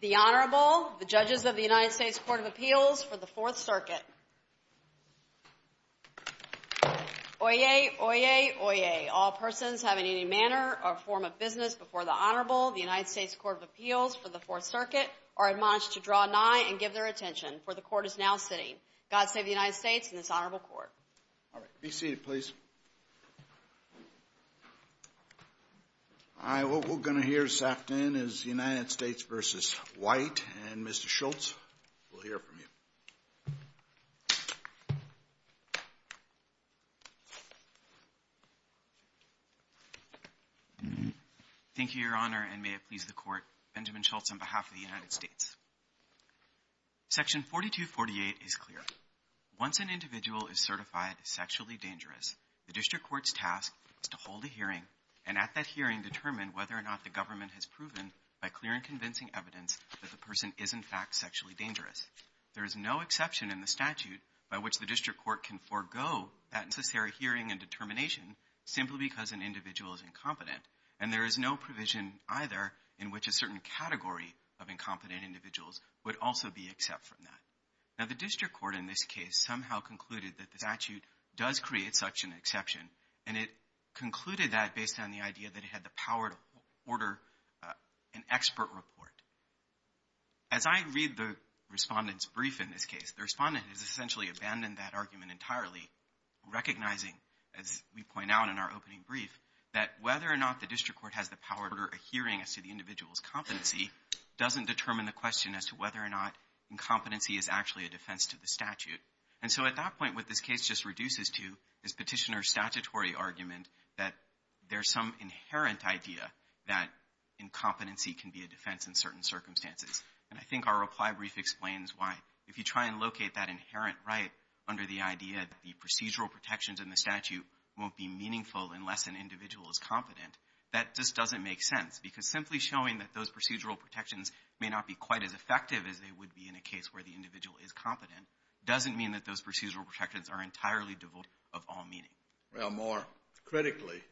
The Honorable, the Judges of the United States Court of Appeals for the Fourth Circuit. Oyez! Oyez! Oyez! All persons having any manner or form of business before the Honorable, the United States Court of Appeals for the Fourth Circuit, are admonished to draw nigh and give their attention, for the Court is now sitting. God save the United States and this Honorable Court. All right. Be seated, please. All right. What we're going to hear this afternoon is United States v. White, and Mr. Schultz, we'll hear from you. Thank you, Your Honor, and may it please the Court, Benjamin Schultz on behalf of the United States. Section 4248 is clear. Once an individual is certified sexually dangerous, the district court's task is to hold a hearing and at that hearing determine whether or not the government has proven by clear and convincing evidence that the person is, in fact, sexually dangerous. There is no exception in the statute by which the district court can forego that necessary hearing and determination simply because an individual is incompetent, and there is no provision either in which a certain category of incompetent individuals would also be except from that. Now, the district court in this case somehow concluded that the statute does create such an exception, and it concluded that based on the idea that it had the power to order an expert report. As I read the Respondent's brief in this case, the Respondent has essentially abandoned that argument entirely, recognizing, as we point out in our opening brief, that whether or not the district court has the power to order a hearing as to the individual's competency doesn't determine the question as to whether or not incompetency is actually a defense to the statute. And so at that point, what this case just reduces to is Petitioner's statutory argument that there's some inherent idea that incompetency can be a defense in certain circumstances. And I think our reply brief explains why, if you try and locate that inherent right under the idea that the procedural protections in the statute won't be meaningful unless an individual is competent, that just doesn't make sense. Because simply showing that those procedural protections may not be quite as effective as they would be in a case where the individual is competent doesn't mean that those procedural protections are entirely devoid of all meaning. Well, more critically,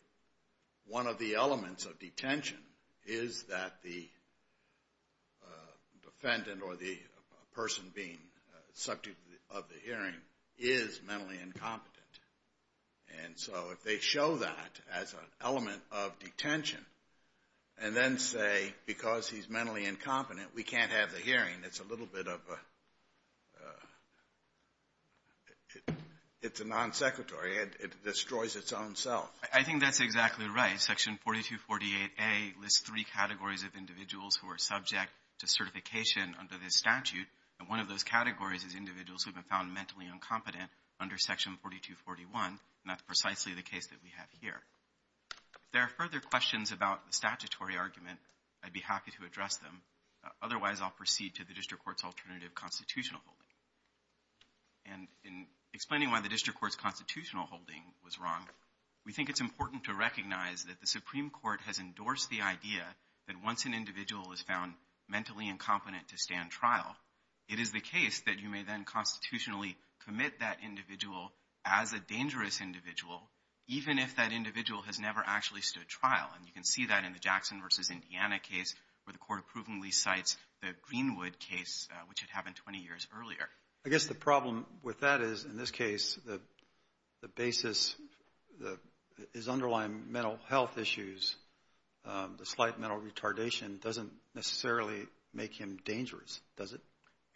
one of the elements of detention is that the defendant or the person being subject of the hearing is mentally incompetent. And so if they show that as an element of detention and then say, because he's mentally incompetent, we can't have the hearing, it's a little bit of a non-sequitur. It destroys its own self. I think that's exactly right. Section 4248A lists three categories of individuals who are subject to certification under this statute. And one of those categories is individuals who have been found mentally incompetent under Section 4241, and that's precisely the case that we have here. If there are further questions about the statutory argument, I'd be happy to address them. Otherwise, I'll proceed to the district court's alternative constitutional holding. And in explaining why the district court's constitutional holding was wrong, we think it's important to recognize that the Supreme Court has endorsed the idea that once an individual is found mentally incompetent to stand trial, it is the case that you may then constitutionally commit that individual as a dangerous individual, even if that individual has never actually stood trial. And you can see that in the Jackson v. Indiana case, where the court approvingly cites the Greenwood case, which had happened 20 years earlier. I guess the problem with that is, in this case, the basis is underlying mental health issues. The slight mental retardation doesn't necessarily make him dangerous, does it?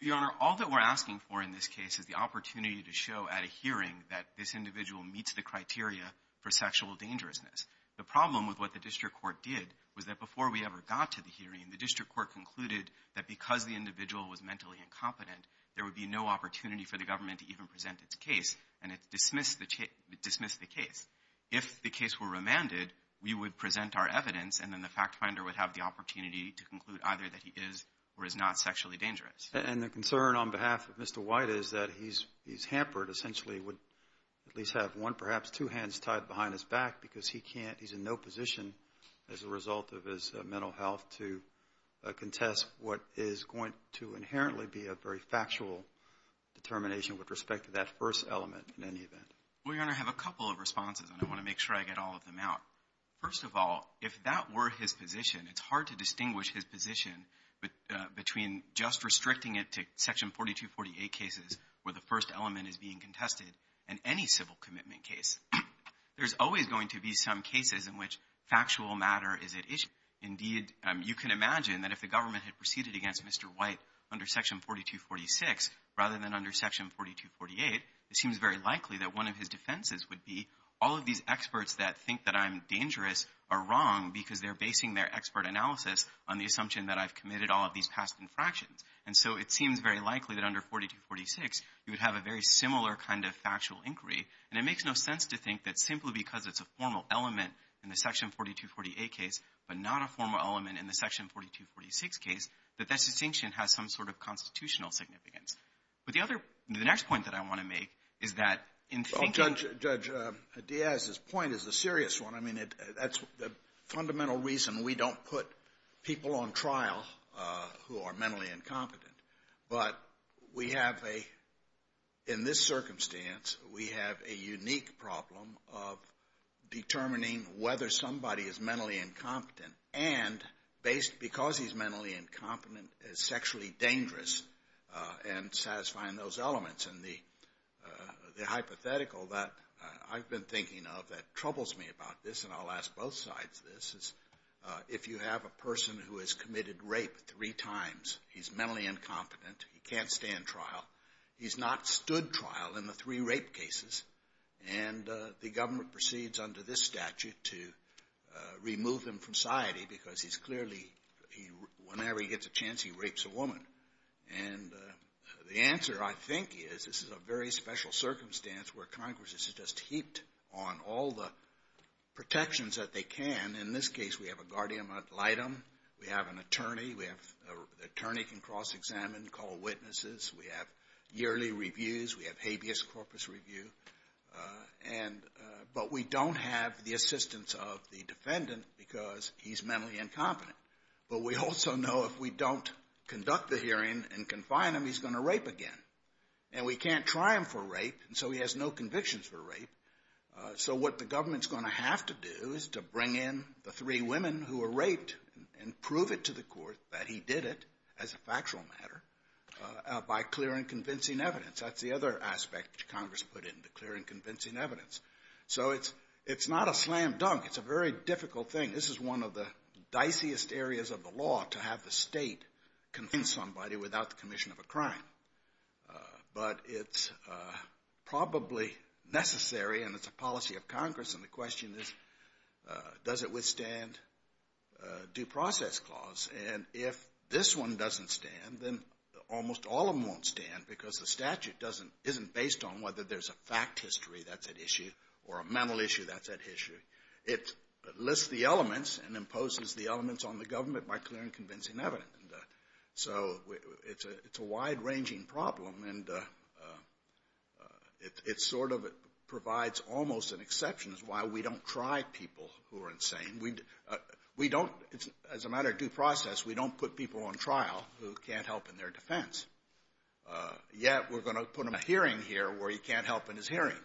Your Honor, all that we're asking for in this case is the opportunity to show at a hearing that this individual meets the criteria for sexual dangerousness. The problem with what the district court did was that before we ever got to the hearing, the district court concluded that because the individual was mentally incompetent, there would be no opportunity for the government to even present its case, and it dismissed the case. If the case were remanded, we would present our evidence, and then the factfinder would have the opportunity to conclude either that he is or is not sexually dangerous. And the concern on behalf of Mr. White is that he's hampered, essentially, would at least have one, perhaps two hands tied behind his back, because he's in no position as a result of his mental health to contest what is going to inherently be a very factual determination with respect to that first element in any event. Well, Your Honor, I have a couple of responses, and I want to make sure I get all of them out. First of all, if that were his position, it's hard to distinguish his position between just restricting it to Section 4248 cases where the first element is being contested and any civil commitment case. There's always going to be some cases in which factual matter is at issue. Indeed, you can imagine that if the government had proceeded against Mr. White under Section 4246 rather than under Section 4248, it seems very likely that one of his defenses would be all of these experts that think that I'm dangerous are wrong because they're basing their expert analysis on the assumption that I've committed all of these past infractions. And so it seems very likely that under 4246, you would have a very similar kind of factual inquiry. And it makes no sense to think that simply because it's a formal element in the Section 4248 case but not a formal element in the Section 4246 case, that that distinction has some sort of constitutional significance. But the other — the next point that I want to make is that in thinking — Well, Judge Diaz, his point is a serious one. I mean, that's the fundamental reason we don't put people on trial who are mentally incompetent. But we have a — in this circumstance, we have a unique problem of determining whether somebody is mentally incompetent and based — because he's mentally incompetent, is sexually dangerous and satisfying those elements. And the hypothetical that I've been thinking of that troubles me about this, and I'll ask both sides this, is if you have a person who has committed rape three times, he's mentally incompetent, he can't stay in trial, he's not stood trial in the three rape cases, and the government proceeds under this statute to remove him from society because he's clearly — whenever he gets a chance, he rapes a woman. And the answer, I think, is this is a very special circumstance where Congress is just heaped on all the protections that they can. In this case, we have a guardian ad litem. We have an attorney. We have — attorney can cross-examine, call witnesses. We have yearly reviews. We have habeas corpus review. And — but we don't have the assistance of the defendant because he's mentally incompetent. But we also know if we don't conduct the hearing and confine him, he's going to rape again. And we can't try him for rape, and so he has no convictions for rape. So what the government's going to have to do is to bring in the three women who were raped and prove it to the court that he did it, as a factual matter, by clear and convincing evidence. That's the other aspect Congress put in, the clear and convincing evidence. So it's not a slam dunk. It's a very difficult thing. This is one of the diciest areas of the law, to have the State convince somebody without the commission of a crime. But it's probably necessary, and it's a policy of Congress. And the question is, does it withstand due process clause? And if this one doesn't stand, then almost all of them won't stand because the statute doesn't — isn't based on whether there's a fact history that's at issue or a mental issue that's at issue. It lists the elements and imposes the elements on the government by clear and convincing evidence. And so it's a wide-ranging problem, and it sort of provides almost an exception as to why we don't try people who are insane. We don't — as a matter of due process, we don't put people on trial who can't help in their defense. Yet we're going to put them in a hearing here where he can't help in his hearing.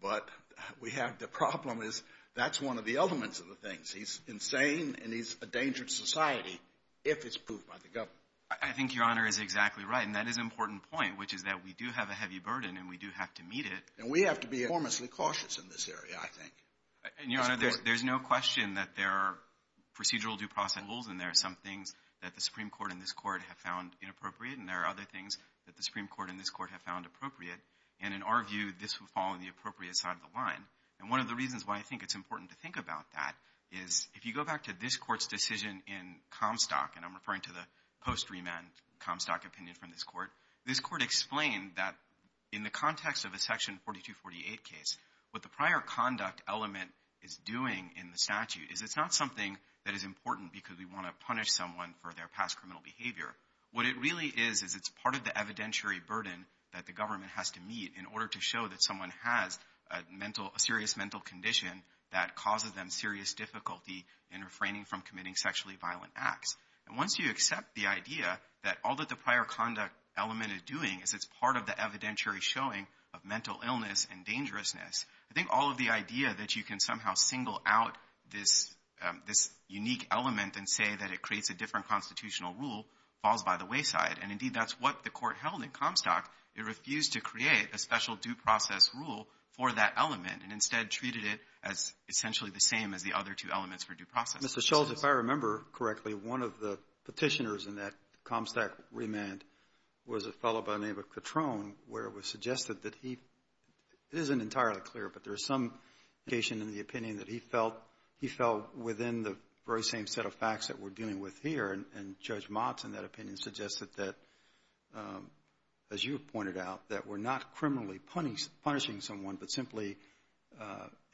But we have — the problem is that's one of the elements of the things. He's insane and he's a danger to society if it's proved by the government. I think Your Honor is exactly right, and that is an important point, which is that we do have a heavy burden and we do have to meet it. And we have to be enormously cautious in this area, I think. And, Your Honor, there's no question that there are procedural due process rules and there are some things that the Supreme Court and this Court have found inappropriate and there are other things that the Supreme Court and this Court have found appropriate. And in our view, this would fall on the appropriate side of the line. And one of the reasons why I think it's important to think about that is if you go back to this Court's decision in Comstock, and I'm referring to the post-remand Comstock opinion from this Court, this Court explained that in the context of a Section 4248 case, what the prior conduct element is doing in the statute is it's not something that is important because we want to punish someone for their past criminal behavior. What it really is is it's part of the evidentiary burden that the government has to meet in order to show that someone has a mental, a serious mental condition that causes them serious difficulty in refraining from committing sexually violent acts. And once you accept the idea that all that the prior conduct element is doing is it's part of the evidentiary showing of mental illness and dangerousness, I think all of the idea that you can somehow single out this unique element and say that it creates a different constitutional rule falls by the wayside. And, indeed, that's what the Court held in Comstock. It refused to create a special due process rule for that element and instead treated it as essentially the same as the other two elements for due process. Kennedy. Mr. Schultz, if I remember correctly, one of the Petitioners in that Comstock remand was a fellow by the name of Catrone where it was suggested that he — it isn't entirely clear, but there's some indication in the opinion that he felt — he felt within the very same set of facts that we're dealing with here. And Judge Motz in that opinion suggested that, as you pointed out, that we're not criminally punishing someone but simply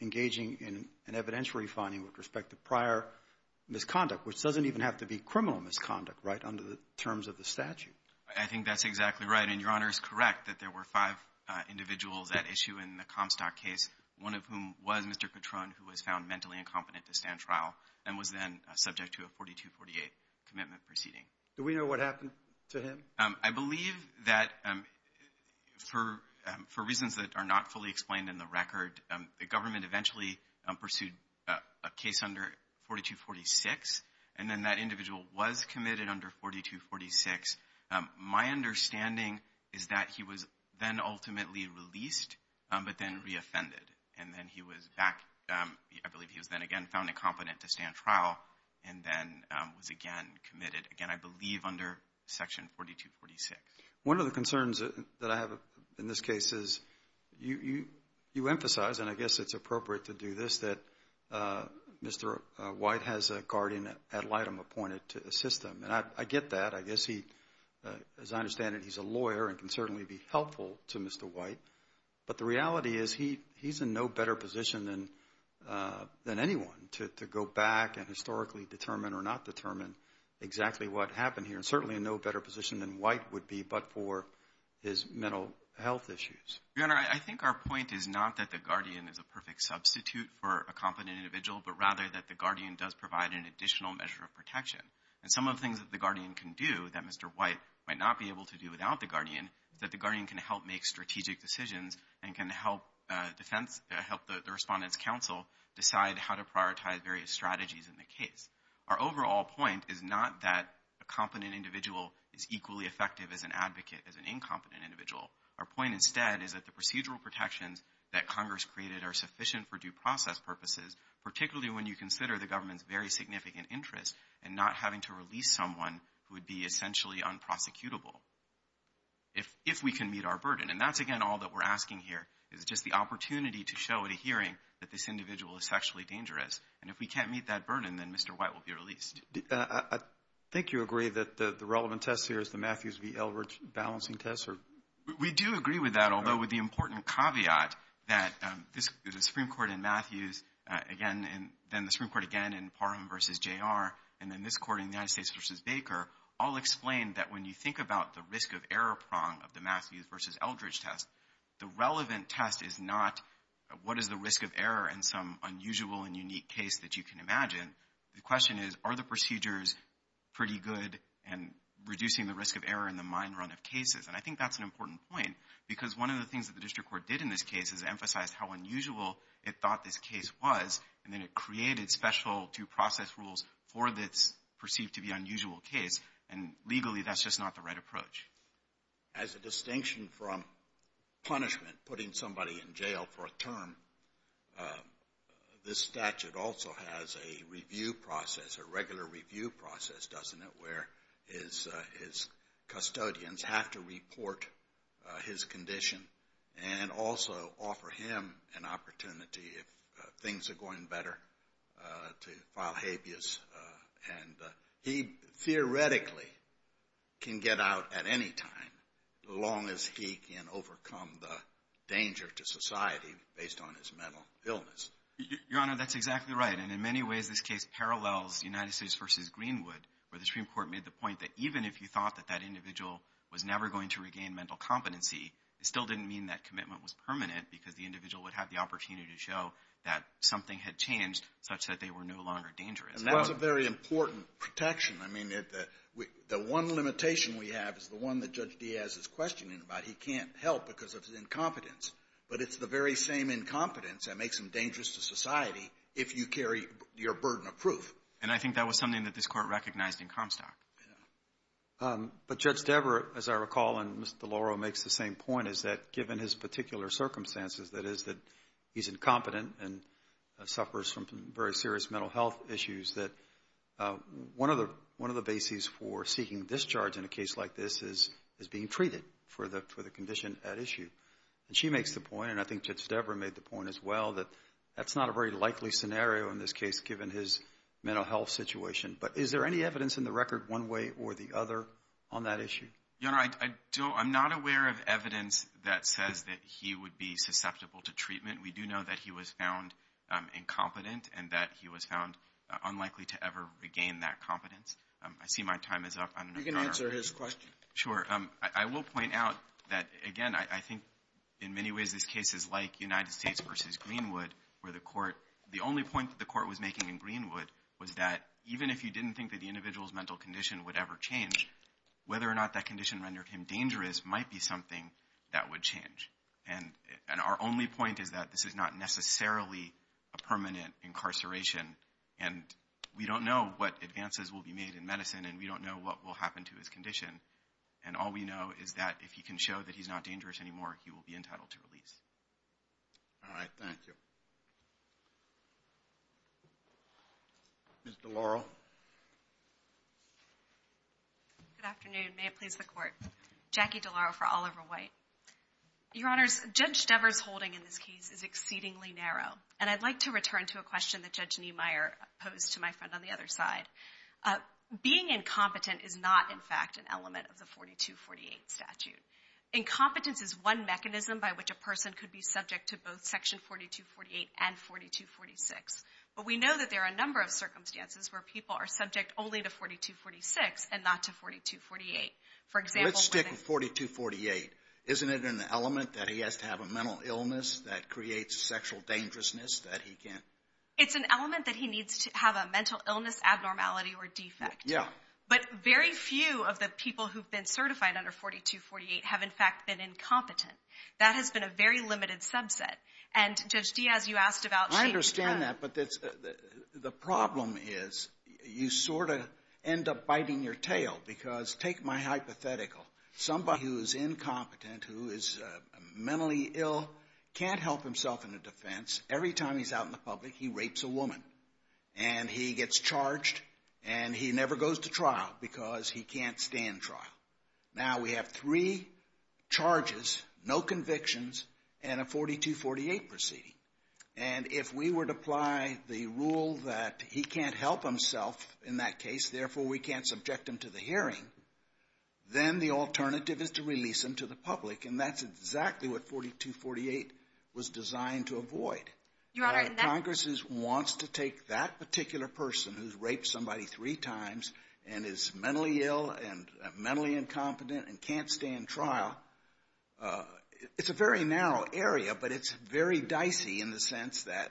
engaging in an evidentiary finding with respect to prior misconduct, which doesn't even have to be criminal misconduct, right, under the terms of the statute. I think that's exactly right. And Your Honor is correct that there were five individuals at issue in the Comstock case, one of whom was Mr. Catrone, who was found mentally incompetent to stand trial and was then subject to a 4248 commitment proceeding. Do we know what happened to him? I believe that for reasons that are not fully explained in the record, the government eventually pursued a case under 4246, and then that individual was committed under 4246. My understanding is that he was then ultimately released, but then reoffended. And then he was back — I believe he was then again found incompetent to stand trial and then was again committed, again, I believe under Section 4246. One of the concerns that I have in this case is you emphasize, and I guess it's appropriate to do this, that Mr. White has a guardian ad litem appointed to assist him. And I get that. I guess he, as I understand it, he's a lawyer and can certainly be helpful to Mr. White. But the reality is he's in no better position than anyone to go back and historically determine or not determine exactly what happened here, and certainly in no better position than White would be but for his mental health issues. Your Honor, I think our point is not that the guardian is a perfect substitute for a competent individual, but rather that the guardian does provide an additional measure of protection. And some of the things that the guardian can do that Mr. White might not be able to do without the guardian is that the guardian can help make strategic decisions and can help the Respondent's Counsel decide how to prioritize various strategies in the case. Our overall point is not that a competent individual is equally effective as an advocate as an incompetent individual. Our point instead is that the procedural protections that Congress created are sufficient for due process purposes, particularly when you consider the risk of having to release someone who would be essentially unprosecutable if we can meet our burden. And that's, again, all that we're asking here is just the opportunity to show at a hearing that this individual is sexually dangerous. And if we can't meet that burden, then Mr. White will be released. I think you agree that the relevant test here is the Matthews v. Elridge balancing test? We do agree with that, although with the important caveat that the Supreme Court in Matthews, again, and then the Supreme Court again in Parham v. J.R., and then this court in the United States v. Baker all explain that when you think about the risk of error prong of the Matthews v. Eldridge test, the relevant test is not what is the risk of error in some unusual and unique case that you can imagine. The question is, are the procedures pretty good in reducing the risk of error in the mine run of cases? And I think that's an important point because one of the things that the District Court did in this case is emphasize how unusual it thought this case was, and then it created special due process rules for this perceived to be unusual case. And legally, that's just not the right approach. As a distinction from punishment, putting somebody in jail for a term, this statute also has a review process, a regular review process, doesn't it, where his custodians have to report his condition and also offer him an opportunity if things are going better to file habeas. And he theoretically can get out at any time as long as he can overcome the danger to society based on his mental illness. Your Honor, that's exactly right. And in many ways, this case parallels United States v. Greenwood, where the Supreme Court made the point that even if you thought that that individual was never going to regain mental competency, it still didn't mean that commitment was permanent because the individual would have the opportunity to show that something had changed such that they were no longer dangerous. And that was a very important protection. I mean, the one limitation we have is the one that Judge Diaz is questioning about. He can't help because of his incompetence. But it's the very same incompetence that makes him dangerous to society if you carry your burden of proof. And I think that was something that this Court recognized in Comstock. But Judge Devereux, as I recall, and Mr. Deloro makes the same point, is that given his particular circumstances, that is, that he's incompetent and suffers from very serious mental health issues, that one of the bases for seeking discharge in a case like this is being treated for the condition at issue. And she makes the point, and I think Judge Devereux made the point as well, that that's not a very likely scenario in this case given his mental health situation. But is there any evidence in the record one way or the other on that issue? Yoner, I don't – I'm not aware of evidence that says that he would be susceptible to treatment. We do know that he was found incompetent and that he was found unlikely to ever regain that competence. I see my time is up. I don't know, Your Honor. You can answer his question. Sure. I will point out that, again, I think in many ways this case is like United States versus Greenwood, where the Court – the only point that the Court was making in Greenwood was that even if you didn't think that the individual's mental condition would ever change, whether or not that condition rendered him dangerous might be something that would change. And our only point is that this is not necessarily a permanent incarceration. And we don't know what advances will be made in medicine, and we don't know what will happen to his condition. And all we know is that if he can show that he's not dangerous anymore, he will be entitled to release. All right. Thank you. Ms. DeLauro. Good afternoon. May it please the Court. Jackie DeLauro for Oliver White. Your Honors, Judge Devers' holding in this case is exceedingly narrow, and I'd like to return to a question that Judge Niemeyer posed to my friend on the other side. Being incompetent is not, in fact, an element of the 4248 statute. Incompetence is one mechanism by which a person could be subject to both Section 4248 and 4246. But we know that there are a number of circumstances where people are subject only to 4246 and not to 4248. Let's stick with 4248. Isn't it an element that he has to have a mental illness that creates sexual dangerousness that he can't? It's an element that he needs to have a mental illness, abnormality, or defect. Yeah. But very few of the people who've been certified under 4248 have, in fact, been incompetent. That has been a very limited subset. And, Judge Diaz, you asked about shame. I understand that, but the problem is you sort of end up biting your tail because take my hypothetical. Somebody who is incompetent, who is mentally ill, can't help himself in a defense. Every time he's out in the public, he rapes a woman, and he gets charged, and he never goes to trial because he can't stand trial. Now, we have three charges, no convictions, and a 4248 proceeding. And if we were to apply the rule that he can't help himself in that case, therefore we can't subject him to the hearing, then the alternative is to release him to the public, and that's exactly what 4248 was designed to avoid. Your Honor, in that ---- Congress wants to take that particular person who's raped somebody three times and is mentally ill and mentally incompetent and can't stand trial. It's a very narrow area, but it's very dicey in the sense that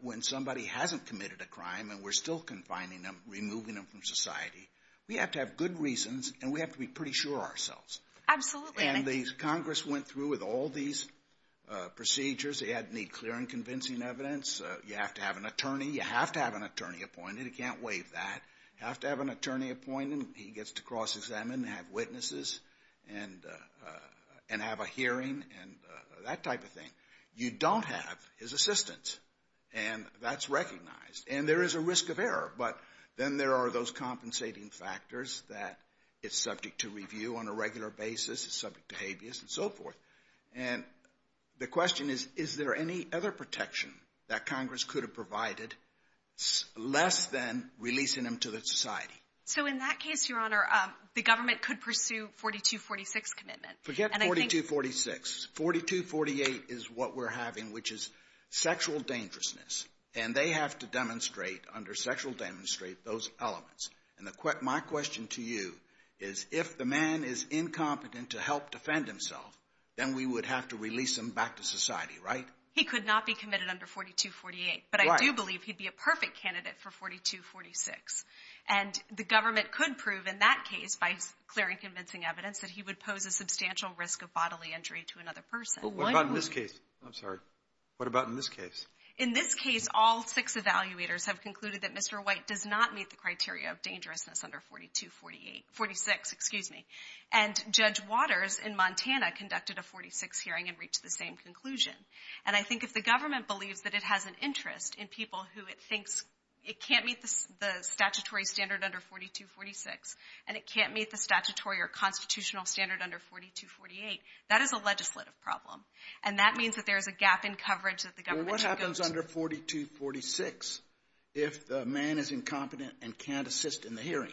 when somebody hasn't committed a crime and we're still confining them, removing them from society, we have to have good reasons, and we have to be pretty sure ourselves. Absolutely. And the Congress went through with all these procedures. They need clear and convincing evidence. You have to have an attorney. You have to have an attorney appointed. You can't waive that. You have to have an attorney appointed. He gets to cross-examine and have witnesses and have a hearing and that type of thing. You don't have his assistance, and that's recognized. And there is a risk of error, but then there are those compensating factors that it's subject to review on a regular basis. It's subject to habeas and so forth. And the question is, is there any other protection that Congress could have provided less than releasing him to the society? So in that case, Your Honor, the government could pursue 4246 commitment. Forget 4246. 4248 is what we're having, which is sexual dangerousness, and they have to demonstrate under sexual demonstrate those elements. And my question to you is if the man is incompetent to help defend himself, then we would have to release him back to society, right? He could not be committed under 4248. But I do believe he'd be a perfect candidate for 4246. And the government could prove in that case, by clearing convincing evidence, that he would pose a substantial risk of bodily injury to another person. What about in this case? I'm sorry. What about in this case? In this case, all six evaluators have concluded that Mr. White does not meet the criteria of dangerousness under 4248. 46, excuse me. And Judge Waters in Montana conducted a 46 hearing and reached the same conclusion. And I think if the government believes that it has an interest in people who it thinks it can't meet the statutory standard under 4246 and it can't meet the statutory or constitutional standard under 4248, that is a legislative problem. And that means that there is a gap in coverage that the government can go to. Well, what happens under 4246 if the man is incompetent and can't assist in the hearing?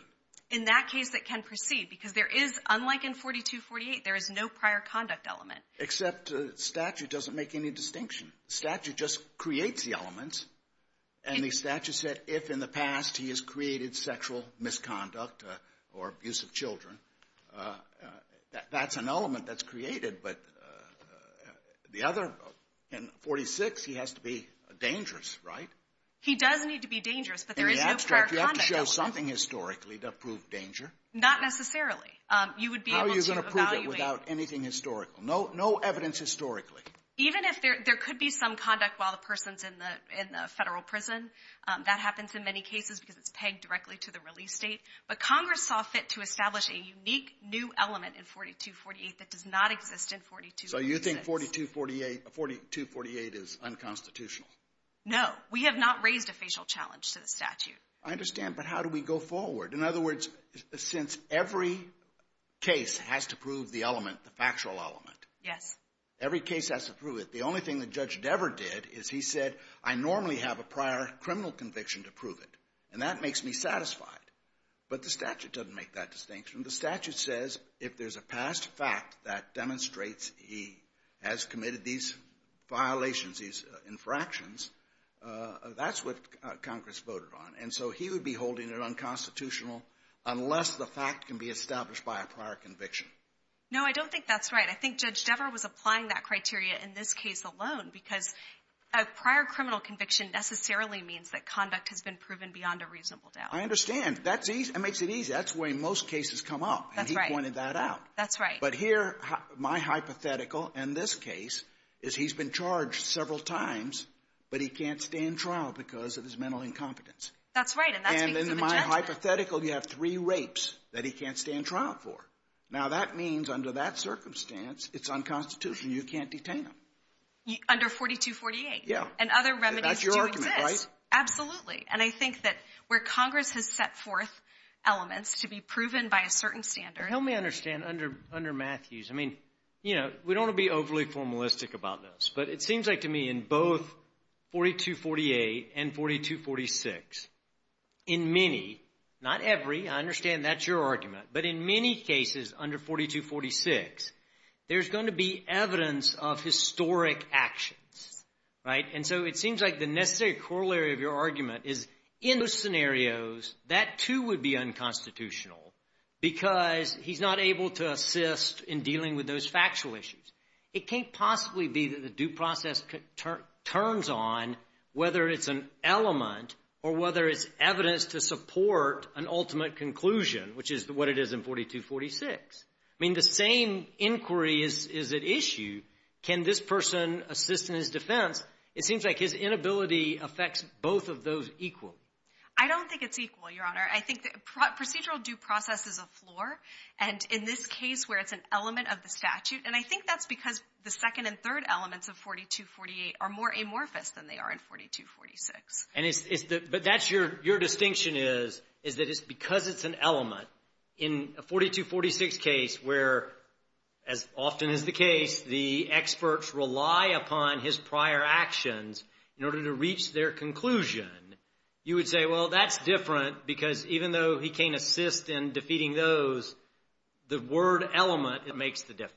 In that case, it can proceed because there is, unlike in 4248, there is no prior conduct element. Except statute doesn't make any distinction. Statute just creates the elements. And the statute said if in the past he has created sexual misconduct or abuse of children, that's an element that's created. But the other, in 4246, he has to be dangerous, right? He does need to be dangerous, but there is no prior conduct element. In the abstract, you have to show something historically to prove danger. Not necessarily. How are you going to prove it without anything historical? No evidence historically. Even if there could be some conduct while the person is in the federal prison, that happens in many cases because it's pegged directly to the release date. But Congress saw fit to establish a unique new element in 4248 that does not exist in 4246. So you think 4248 is unconstitutional? No. We have not raised a facial challenge to the statute. I understand, but how do we go forward? In other words, since every case has to prove the element, the factual element. Yes. Every case has to prove it. The only thing that Judge Devereux did is he said, I normally have a prior criminal conviction to prove it, and that makes me satisfied. But the statute doesn't make that distinction. The statute says if there's a past fact that demonstrates he has committed these violations, these infractions, that's what Congress voted on. And so he would be holding it unconstitutional unless the fact can be established by a prior conviction. No, I don't think that's right. I think Judge Devereux was applying that criteria in this case alone because a prior criminal conviction necessarily means that conduct has been proven beyond a reasonable doubt. I understand. That's easy. That makes it easy. That's the way most cases come up. That's right. And he pointed that out. That's right. But here, my hypothetical in this case is he's been charged several times, but he can't stand trial because of his mental incompetence. That's right. And that's because of a judgment. And in my hypothetical, you have three rapes that he can't stand trial for. Now, that means under that circumstance, it's unconstitutional. You can't detain him. Under 4248. Yeah. And other remedies do exist. That's your argument, right? Absolutely. And I think that where Congress has set forth elements to be proven by a certain standard Help me understand under Matthews. I mean, you know, we don't want to be overly formalistic about this, but it seems like to me in both 4248 and 4246, in many, not every, I understand that's your argument, but in many cases under 4246, there's going to be evidence of historic actions, right? And so it seems like the necessary corollary of your argument is in those scenarios, that too would be unconstitutional because he's not able to assist in dealing with those factual issues. It can't possibly be that the due process turns on whether it's an element or whether it's evidence to support an ultimate conclusion, which is what it is in 4246. I mean, the same inquiry is at issue. Can this person assist in his defense? It seems like his inability affects both of those equally. I don't think it's equal, Your Honor. I think procedural due process is a floor, and in this case where it's an element of the statute, and I think that's because the second and third elements of 4248 are more amorphous than they are in 4246. But that's your distinction is that it's because it's an element. In a 4246 case where, as often is the case, the experts rely upon his prior actions in order to reach their conclusion, you would say, well, that's different because even though he can't assist in defeating those, the word element makes the difference.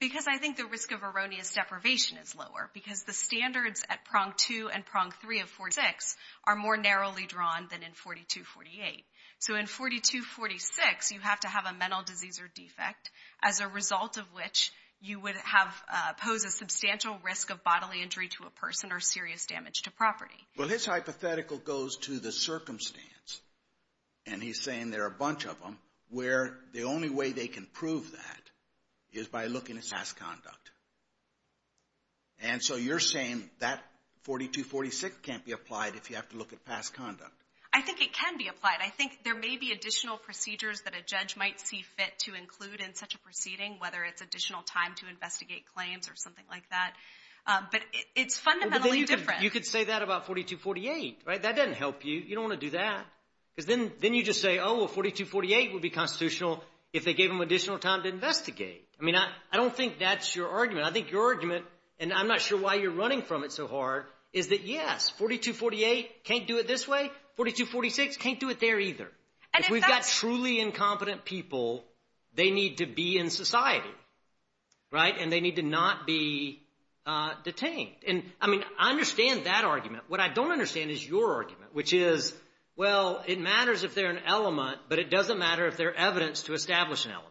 Because I think the risk of erroneous deprivation is lower because the standards at prong 2 and prong 3 of 426 are more narrowly drawn than in 4248. So in 4246, you have to have a mental disease or defect as a result of which you would pose a substantial risk of bodily injury to a person or serious damage to property. Well, his hypothetical goes to the circumstance, and he's saying there are a bunch of them where the only way they can prove that is by looking at past conduct. And so you're saying that 4246 can't be applied if you have to look at past conduct. I think it can be applied. I think there may be additional procedures that a judge might see fit to include in such a proceeding, whether it's additional time to investigate claims or something like that. But it's fundamentally different. You could say that about 4248, right? That doesn't help you. You don't want to do that. Because then you just say, oh, well, 4248 would be constitutional if they gave them additional time to investigate. I mean, I don't think that's your argument. I think your argument, and I'm not sure why you're running from it so hard, is that, yes, 4248 can't do it this way. 4246 can't do it there either. If we've got truly incompetent people, they need to be in society, right? And they need to not be detained. I mean, I understand that argument. What I don't understand is your argument, which is, well, it matters if they're an element, but it doesn't matter if they're evidence to establish an element.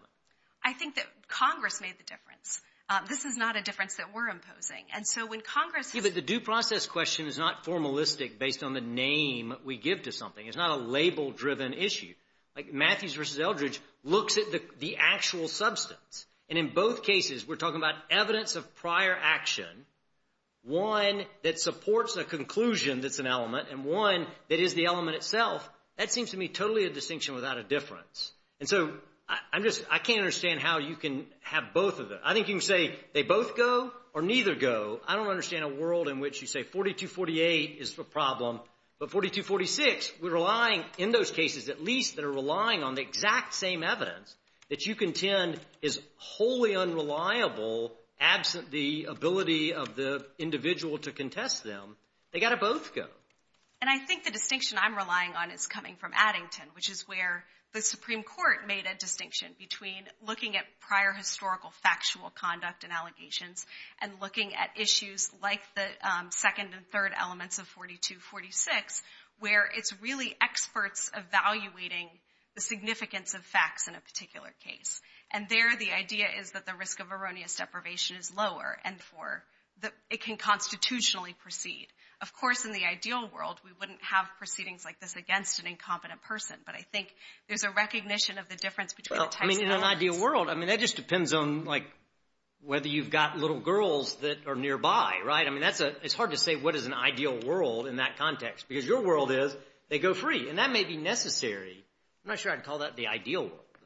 I think that Congress made the difference. This is not a difference that we're imposing. And so when Congress has— Yeah, but the due process question is not formalistic based on the name we give to something. It's not a label-driven issue. Like, Matthews v. Eldridge looks at the actual substance. And in both cases, we're talking about evidence of prior action, one that supports a conclusion that's an element, and one that is the element itself. That seems to me totally a distinction without a difference. And so I can't understand how you can have both of them. I think you can say they both go or neither go. I don't understand a world in which you say 4248 is the problem, but 4246, we're relying, in those cases at least, that are relying on the exact same evidence that you contend is wholly unreliable absent the ability of the individual to contest them. They've got to both go. And I think the distinction I'm relying on is coming from Addington, which is where the Supreme Court made a distinction between looking at prior historical factual conduct and allegations and looking at issues like the second and third elements of 4246, where it's really experts evaluating the significance of facts in a particular case. And there the idea is that the risk of erroneous deprivation is lower and it can constitutionally proceed. Of course, in the ideal world we wouldn't have proceedings like this against an incompetent person, but I think there's a recognition of the difference between the types of elements. In an ideal world, that just depends on whether you've got little girls that are nearby. It's hard to say what is an ideal world in that context, because your world is they go free, and that may be necessary. I'm not sure I'd call that the ideal world, though.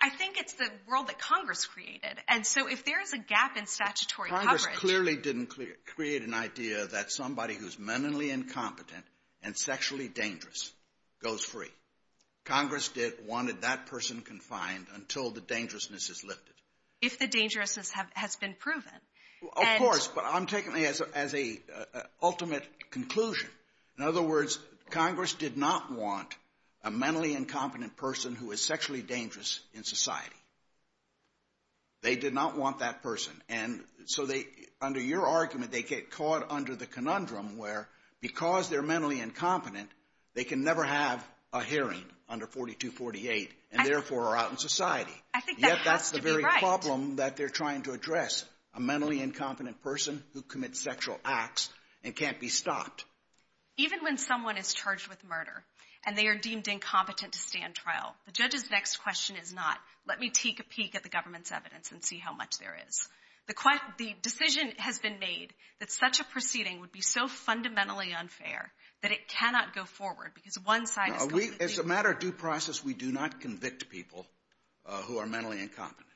I think it's the world that Congress created. And so if there is a gap in statutory coverage— Congress clearly didn't create an idea that somebody who's mentally incompetent and sexually dangerous goes free. Congress wanted that person confined until the dangerousness is lifted. If the dangerousness has been proven. Of course, but I'm taking it as an ultimate conclusion. In other words, Congress did not want a mentally incompetent person who is sexually dangerous in society. They did not want that person. And so under your argument, they get caught under the conundrum where because they're mentally incompetent, they can never have a hearing under 4248 and therefore are out in society. Yet that's the very problem that they're trying to address, a mentally incompetent person who commits sexual acts and can't be stopped. Even when someone is charged with murder and they are deemed incompetent to stand trial, the judge's next question is not, let me take a peek at the government's evidence and see how much there is. The decision has been made that such a proceeding would be so fundamentally unfair that it cannot go forward because one side is going to be— As a matter of due process, we do not convict people who are mentally incompetent.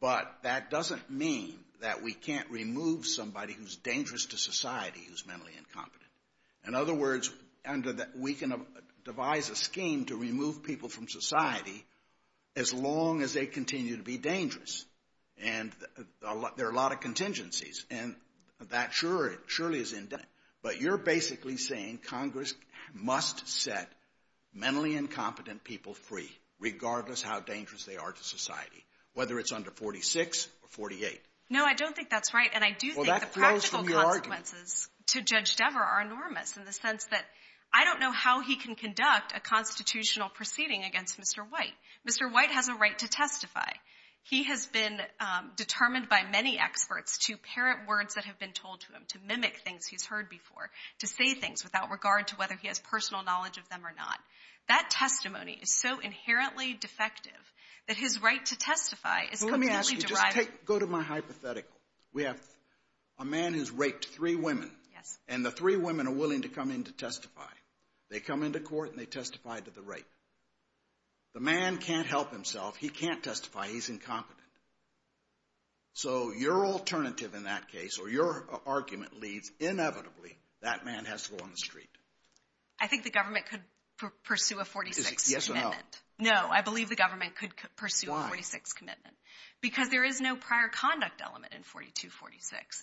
But that doesn't mean that we can't remove somebody who's dangerous to society who's mentally incompetent. In other words, we can devise a scheme to remove people from society as long as they continue to be dangerous. And there are a lot of contingencies, and that surely is in— But you're basically saying Congress must set mentally incompetent people free regardless how dangerous they are to society, whether it's under 46 or 48. No, I don't think that's right. And I do think the practical consequences to Judge Dever are enormous in the sense that I don't know how he can conduct a constitutional proceeding against Mr. White. Mr. White has a right to testify. He has been determined by many experts to parent words that have been told to him, to mimic things he's heard before, to say things without regard to whether he has personal knowledge of them or not. That testimony is so inherently defective that his right to testify is completely derived— A man has raped three women, and the three women are willing to come in to testify. They come into court and they testify to the rape. The man can't help himself. He can't testify. He's incompetent. So your alternative in that case, or your argument, leads inevitably that man has to go on the street. I think the government could pursue a 46 commitment. Yes or no? No, I believe the government could pursue a 46 commitment. Why? Because there is no prior conduct element in 42-46.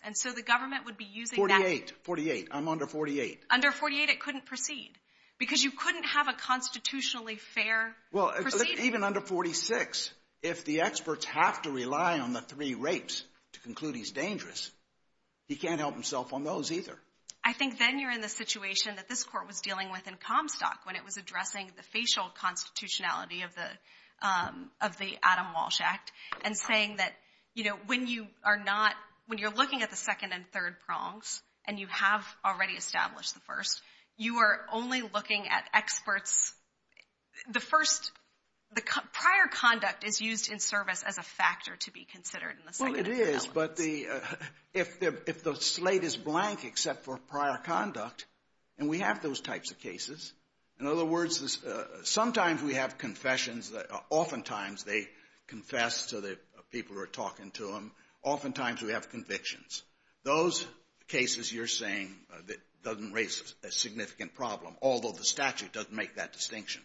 And so the government would be using that— 48. 48. I'm under 48. Under 48, it couldn't proceed because you couldn't have a constitutionally fair proceeding. Well, even under 46, if the experts have to rely on the three rapes to conclude he's dangerous, he can't help himself on those either. I think then you're in the situation that this Court was dealing with in Comstock when it was addressing the facial constitutionality of the Adam Walsh Act and saying that, you know, when you are not—when you're looking at the second and third prongs and you have already established the first, you are only looking at experts. The first—the prior conduct is used in service as a factor to be considered in the second and third elements. Well, it is, but if the slate is blank except for prior conduct, and we have those types of cases. In other words, sometimes we have confessions that oftentimes they confess to the people who are talking to them. Oftentimes we have convictions. Those cases you're saying that doesn't raise a significant problem, although the statute doesn't make that distinction.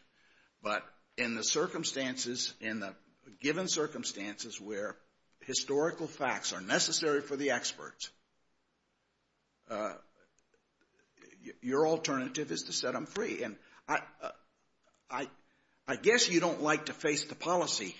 But in the circumstances, in the given circumstances where historical facts are necessary for the experts, your alternative is to set them free. And I guess you don't like to face the policy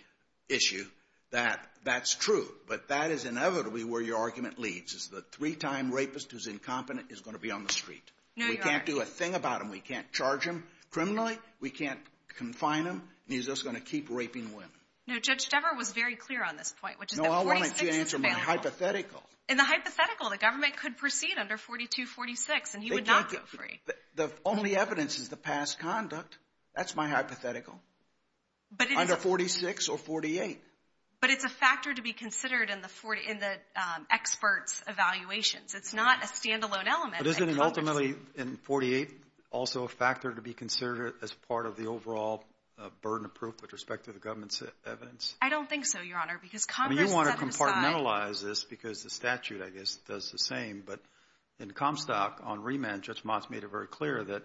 issue that that's true, but that is inevitably where your argument leads, is the three-time rapist who's incompetent is going to be on the street. No, Your Honor. We can't do a thing about him. We can't charge him criminally. We can't confine him. And he's just going to keep raping women. No, Judge Devereux was very clear on this point, which is that 46 is family. No, I wanted you to answer my hypothetical. In the hypothetical, the government could proceed under 42-46, and he would not go free. The only evidence is the past conduct. That's my hypothetical. Under 46 or 48. But it's a factor to be considered in the experts' evaluations. It's not a standalone element. But isn't it ultimately in 48 also a factor to be considered as part of the overall burden of proof with respect to the government's evidence? I don't think so, Your Honor, because Congress set this aside. I mean, you want to compartmentalize this because the statute, I guess, does the same. But in Comstock, on remand, Judge Motz made it very clear that,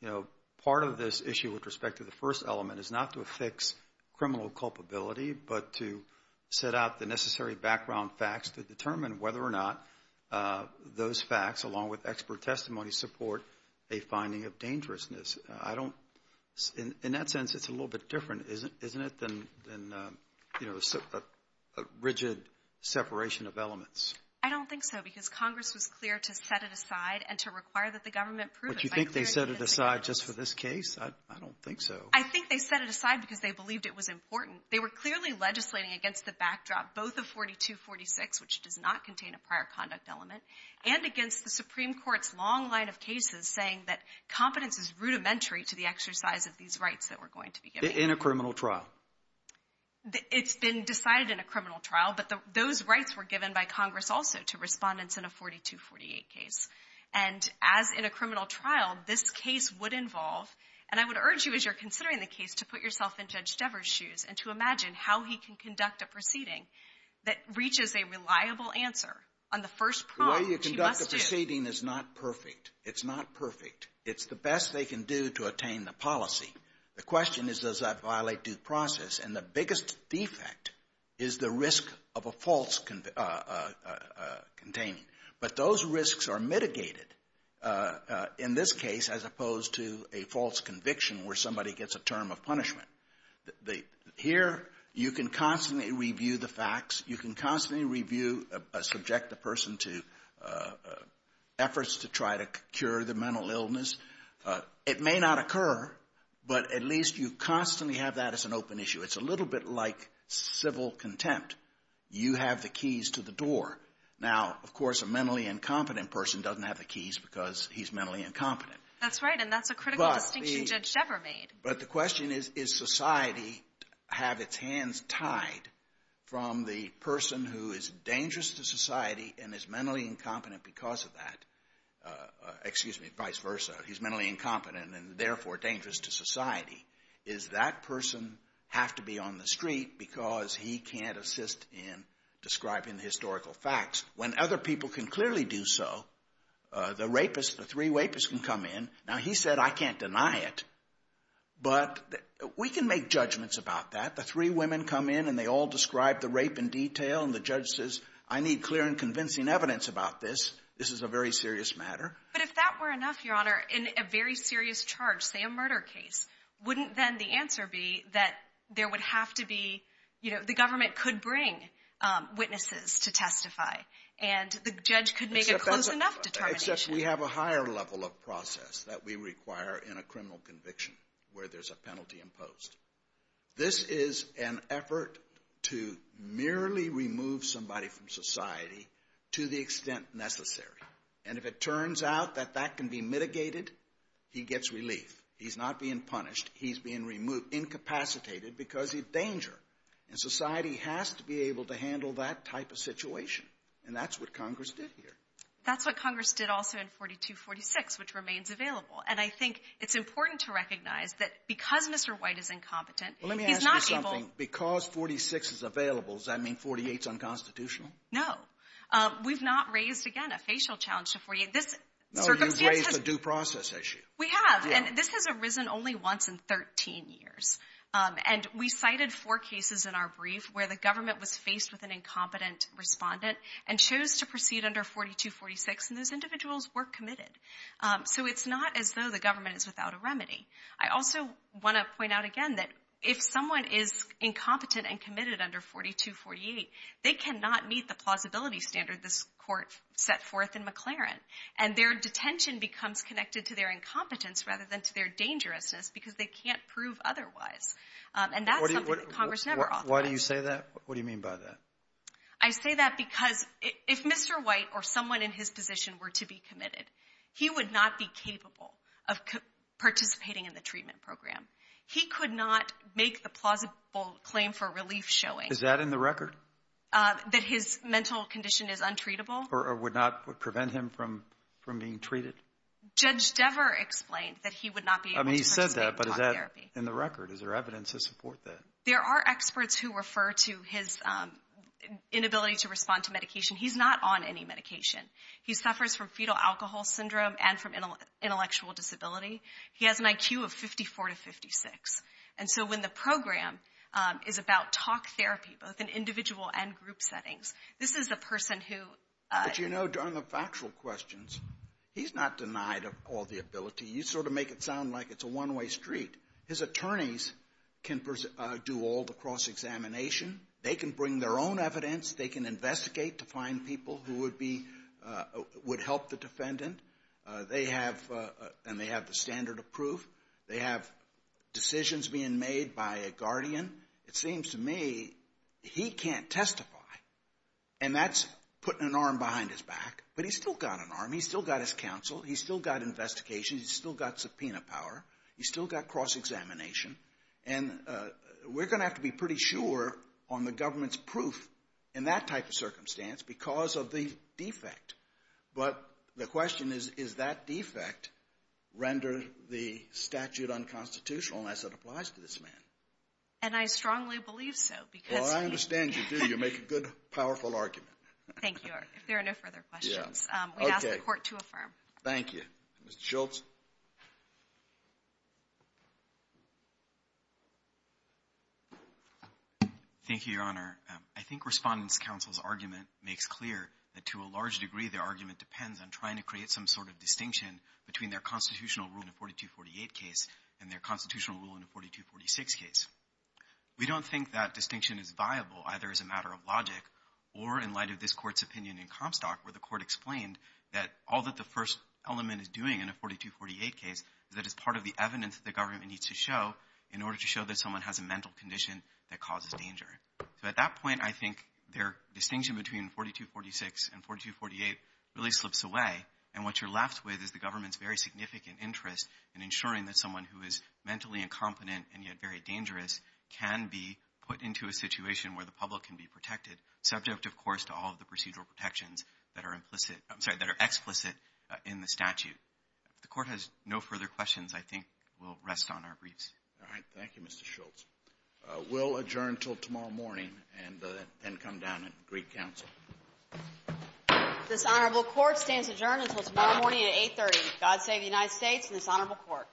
you know, part of this issue with respect to the first element is not to affix criminal culpability but to set out the necessary background facts to determine whether or not those facts, along with expert testimony, support a finding of dangerousness. In that sense, it's a little bit different, isn't it, than, you know, a rigid separation of elements? I don't think so because Congress was clear to set it aside and to require that the government prove it. But you think they set it aside just for this case? I don't think so. I think they set it aside because they believed it was important. They were clearly legislating against the backdrop both of 42-46, which does not contain a prior conduct element, and against the Supreme Court's long line of cases saying that competence is rudimentary to the exercise of these rights that we're going to be giving. In a criminal trial? It's been decided in a criminal trial, but those rights were given by Congress also to Respondents in a 42-48 case. And as in a criminal trial, this case would involve, and I would urge you as you're considering the case to put yourself in Judge Stever's shoes and to imagine how he can conduct a proceeding that reaches a reliable answer on the first problem, which he must do. The way you conduct a proceeding is not perfect. It's not perfect. It's the best they can do to attain the policy. The question is, does that violate due process? And the biggest defect is the risk of a false containing. But those risks are mitigated in this case as opposed to a false conviction where somebody gets a term of punishment. Here, you can constantly review the facts. You can constantly review a subjective person's efforts to try to cure the mental illness. It may not occur, but at least you constantly have that as an open issue. It's a little bit like civil contempt. You have the keys to the door. Now, of course, a mentally incompetent person doesn't have the keys because he's mentally incompetent. That's right, and that's a critical distinction Judge Stever made. But the question is, does society have its hands tied from the person who is dangerous to society and is mentally incompetent because of that? Excuse me, vice versa. He's mentally incompetent and therefore dangerous to society. Does that person have to be on the street because he can't assist in describing the historical facts? When other people can clearly do so, the rapist, the three rapists can come in. Now, he said, I can't deny it, but we can make judgments about that. The three women come in, and they all describe the rape in detail, and the judge says, I need clear and convincing evidence about this. This is a very serious matter. But if that were enough, Your Honor, in a very serious charge, say a murder case, wouldn't then the answer be that there would have to be, you know, the government could bring witnesses to testify, and the judge could make a close enough determination? As such, we have a higher level of process that we require in a criminal conviction where there's a penalty imposed. This is an effort to merely remove somebody from society to the extent necessary. And if it turns out that that can be mitigated, he gets relief. He's not being punished. He's being incapacitated because of danger. And society has to be able to handle that type of situation. And that's what Congress did here. That's what Congress did also in 42-46, which remains available. And I think it's important to recognize that because Mr. White is incompetent, he's not able to do that. Well, let me ask you something. Because 46 is available, does that mean 48 is unconstitutional? No. We've not raised, again, a facial challenge to 48. No, you've raised a due process issue. We have. Yeah. And this has arisen only once in 13 years. And we cited four cases in our brief where the government was faced with an incompetent respondent and chose to proceed under 42-46. And those individuals were committed. So it's not as though the government is without a remedy. I also want to point out again that if someone is incompetent and committed under 42-48, they cannot meet the plausibility standard this court set forth in McLaren. And their detention becomes connected to their incompetence rather than to their dangerousness because they can't prove otherwise. And that's something that Congress never authorized. Why do you say that? What do you mean by that? I say that because if Mr. White or someone in his position were to be committed, he would not be capable of participating in the treatment program. He could not make the plausible claim for relief showing. Is that in the record? That his mental condition is untreatable. Or would not prevent him from being treated? Judge Dever explained that he would not be able to participate in talk therapy. I mean, he said that, but is that in the record? Is there evidence to support that? There are experts who refer to his inability to respond to medication. He's not on any medication. He suffers from fetal alcohol syndrome and from intellectual disability. He has an IQ of 54 to 56. And so when the program is about talk therapy, both in individual and group settings, this is the person who – But, you know, on the factual questions, he's not denied of all the ability. You sort of make it sound like it's a one-way street. His attorneys can do all the cross-examination. They can bring their own evidence. They can investigate to find people who would help the defendant. And they have the standard of proof. They have decisions being made by a guardian. It seems to me he can't testify, and that's putting an arm behind his back. But he's still got an arm. He's still got his counsel. He's still got investigations. He's still got subpoena power. He's still got cross-examination. And we're going to have to be pretty sure on the government's proof in that type of circumstance because of the defect. But the question is, does that defect render the statute unconstitutional as it applies to this man? And I strongly believe so because he – Well, I understand you do. You make a good, powerful argument. Thank you. If there are no further questions, we ask the Court to affirm. Thank you. Mr. Schultz. Thank you, Your Honor. I think Respondent's counsel's argument makes clear that, to a large degree, their argument depends on trying to create some sort of distinction between their constitutional rule in the 4248 case and their constitutional rule in the 4246 case. We don't think that distinction is viable either as a matter of logic or in light of this Court's opinion in Comstock where the Court explained that all that the first element is doing in a 4248 case is that it's part of the evidence that the government needs to show in order to show that someone has a mental condition that causes danger. So at that point, I think their distinction between 4246 and 4248 really slips away. And what you're left with is the government's very significant interest in ensuring that someone who is mentally incompetent and yet very dangerous can be put into a situation where the public can be protected, subject, of course, to all of the procedural protections that are implicit – I'm sorry, that are explicit in the statute. If the Court has no further questions, I think we'll rest on our briefs. All right. Thank you, Mr. Schultz. We'll adjourn until tomorrow morning and then come down and greet counsel. This honorable Court stands adjourned until tomorrow morning at 8.30. God save the United States and this honorable Court.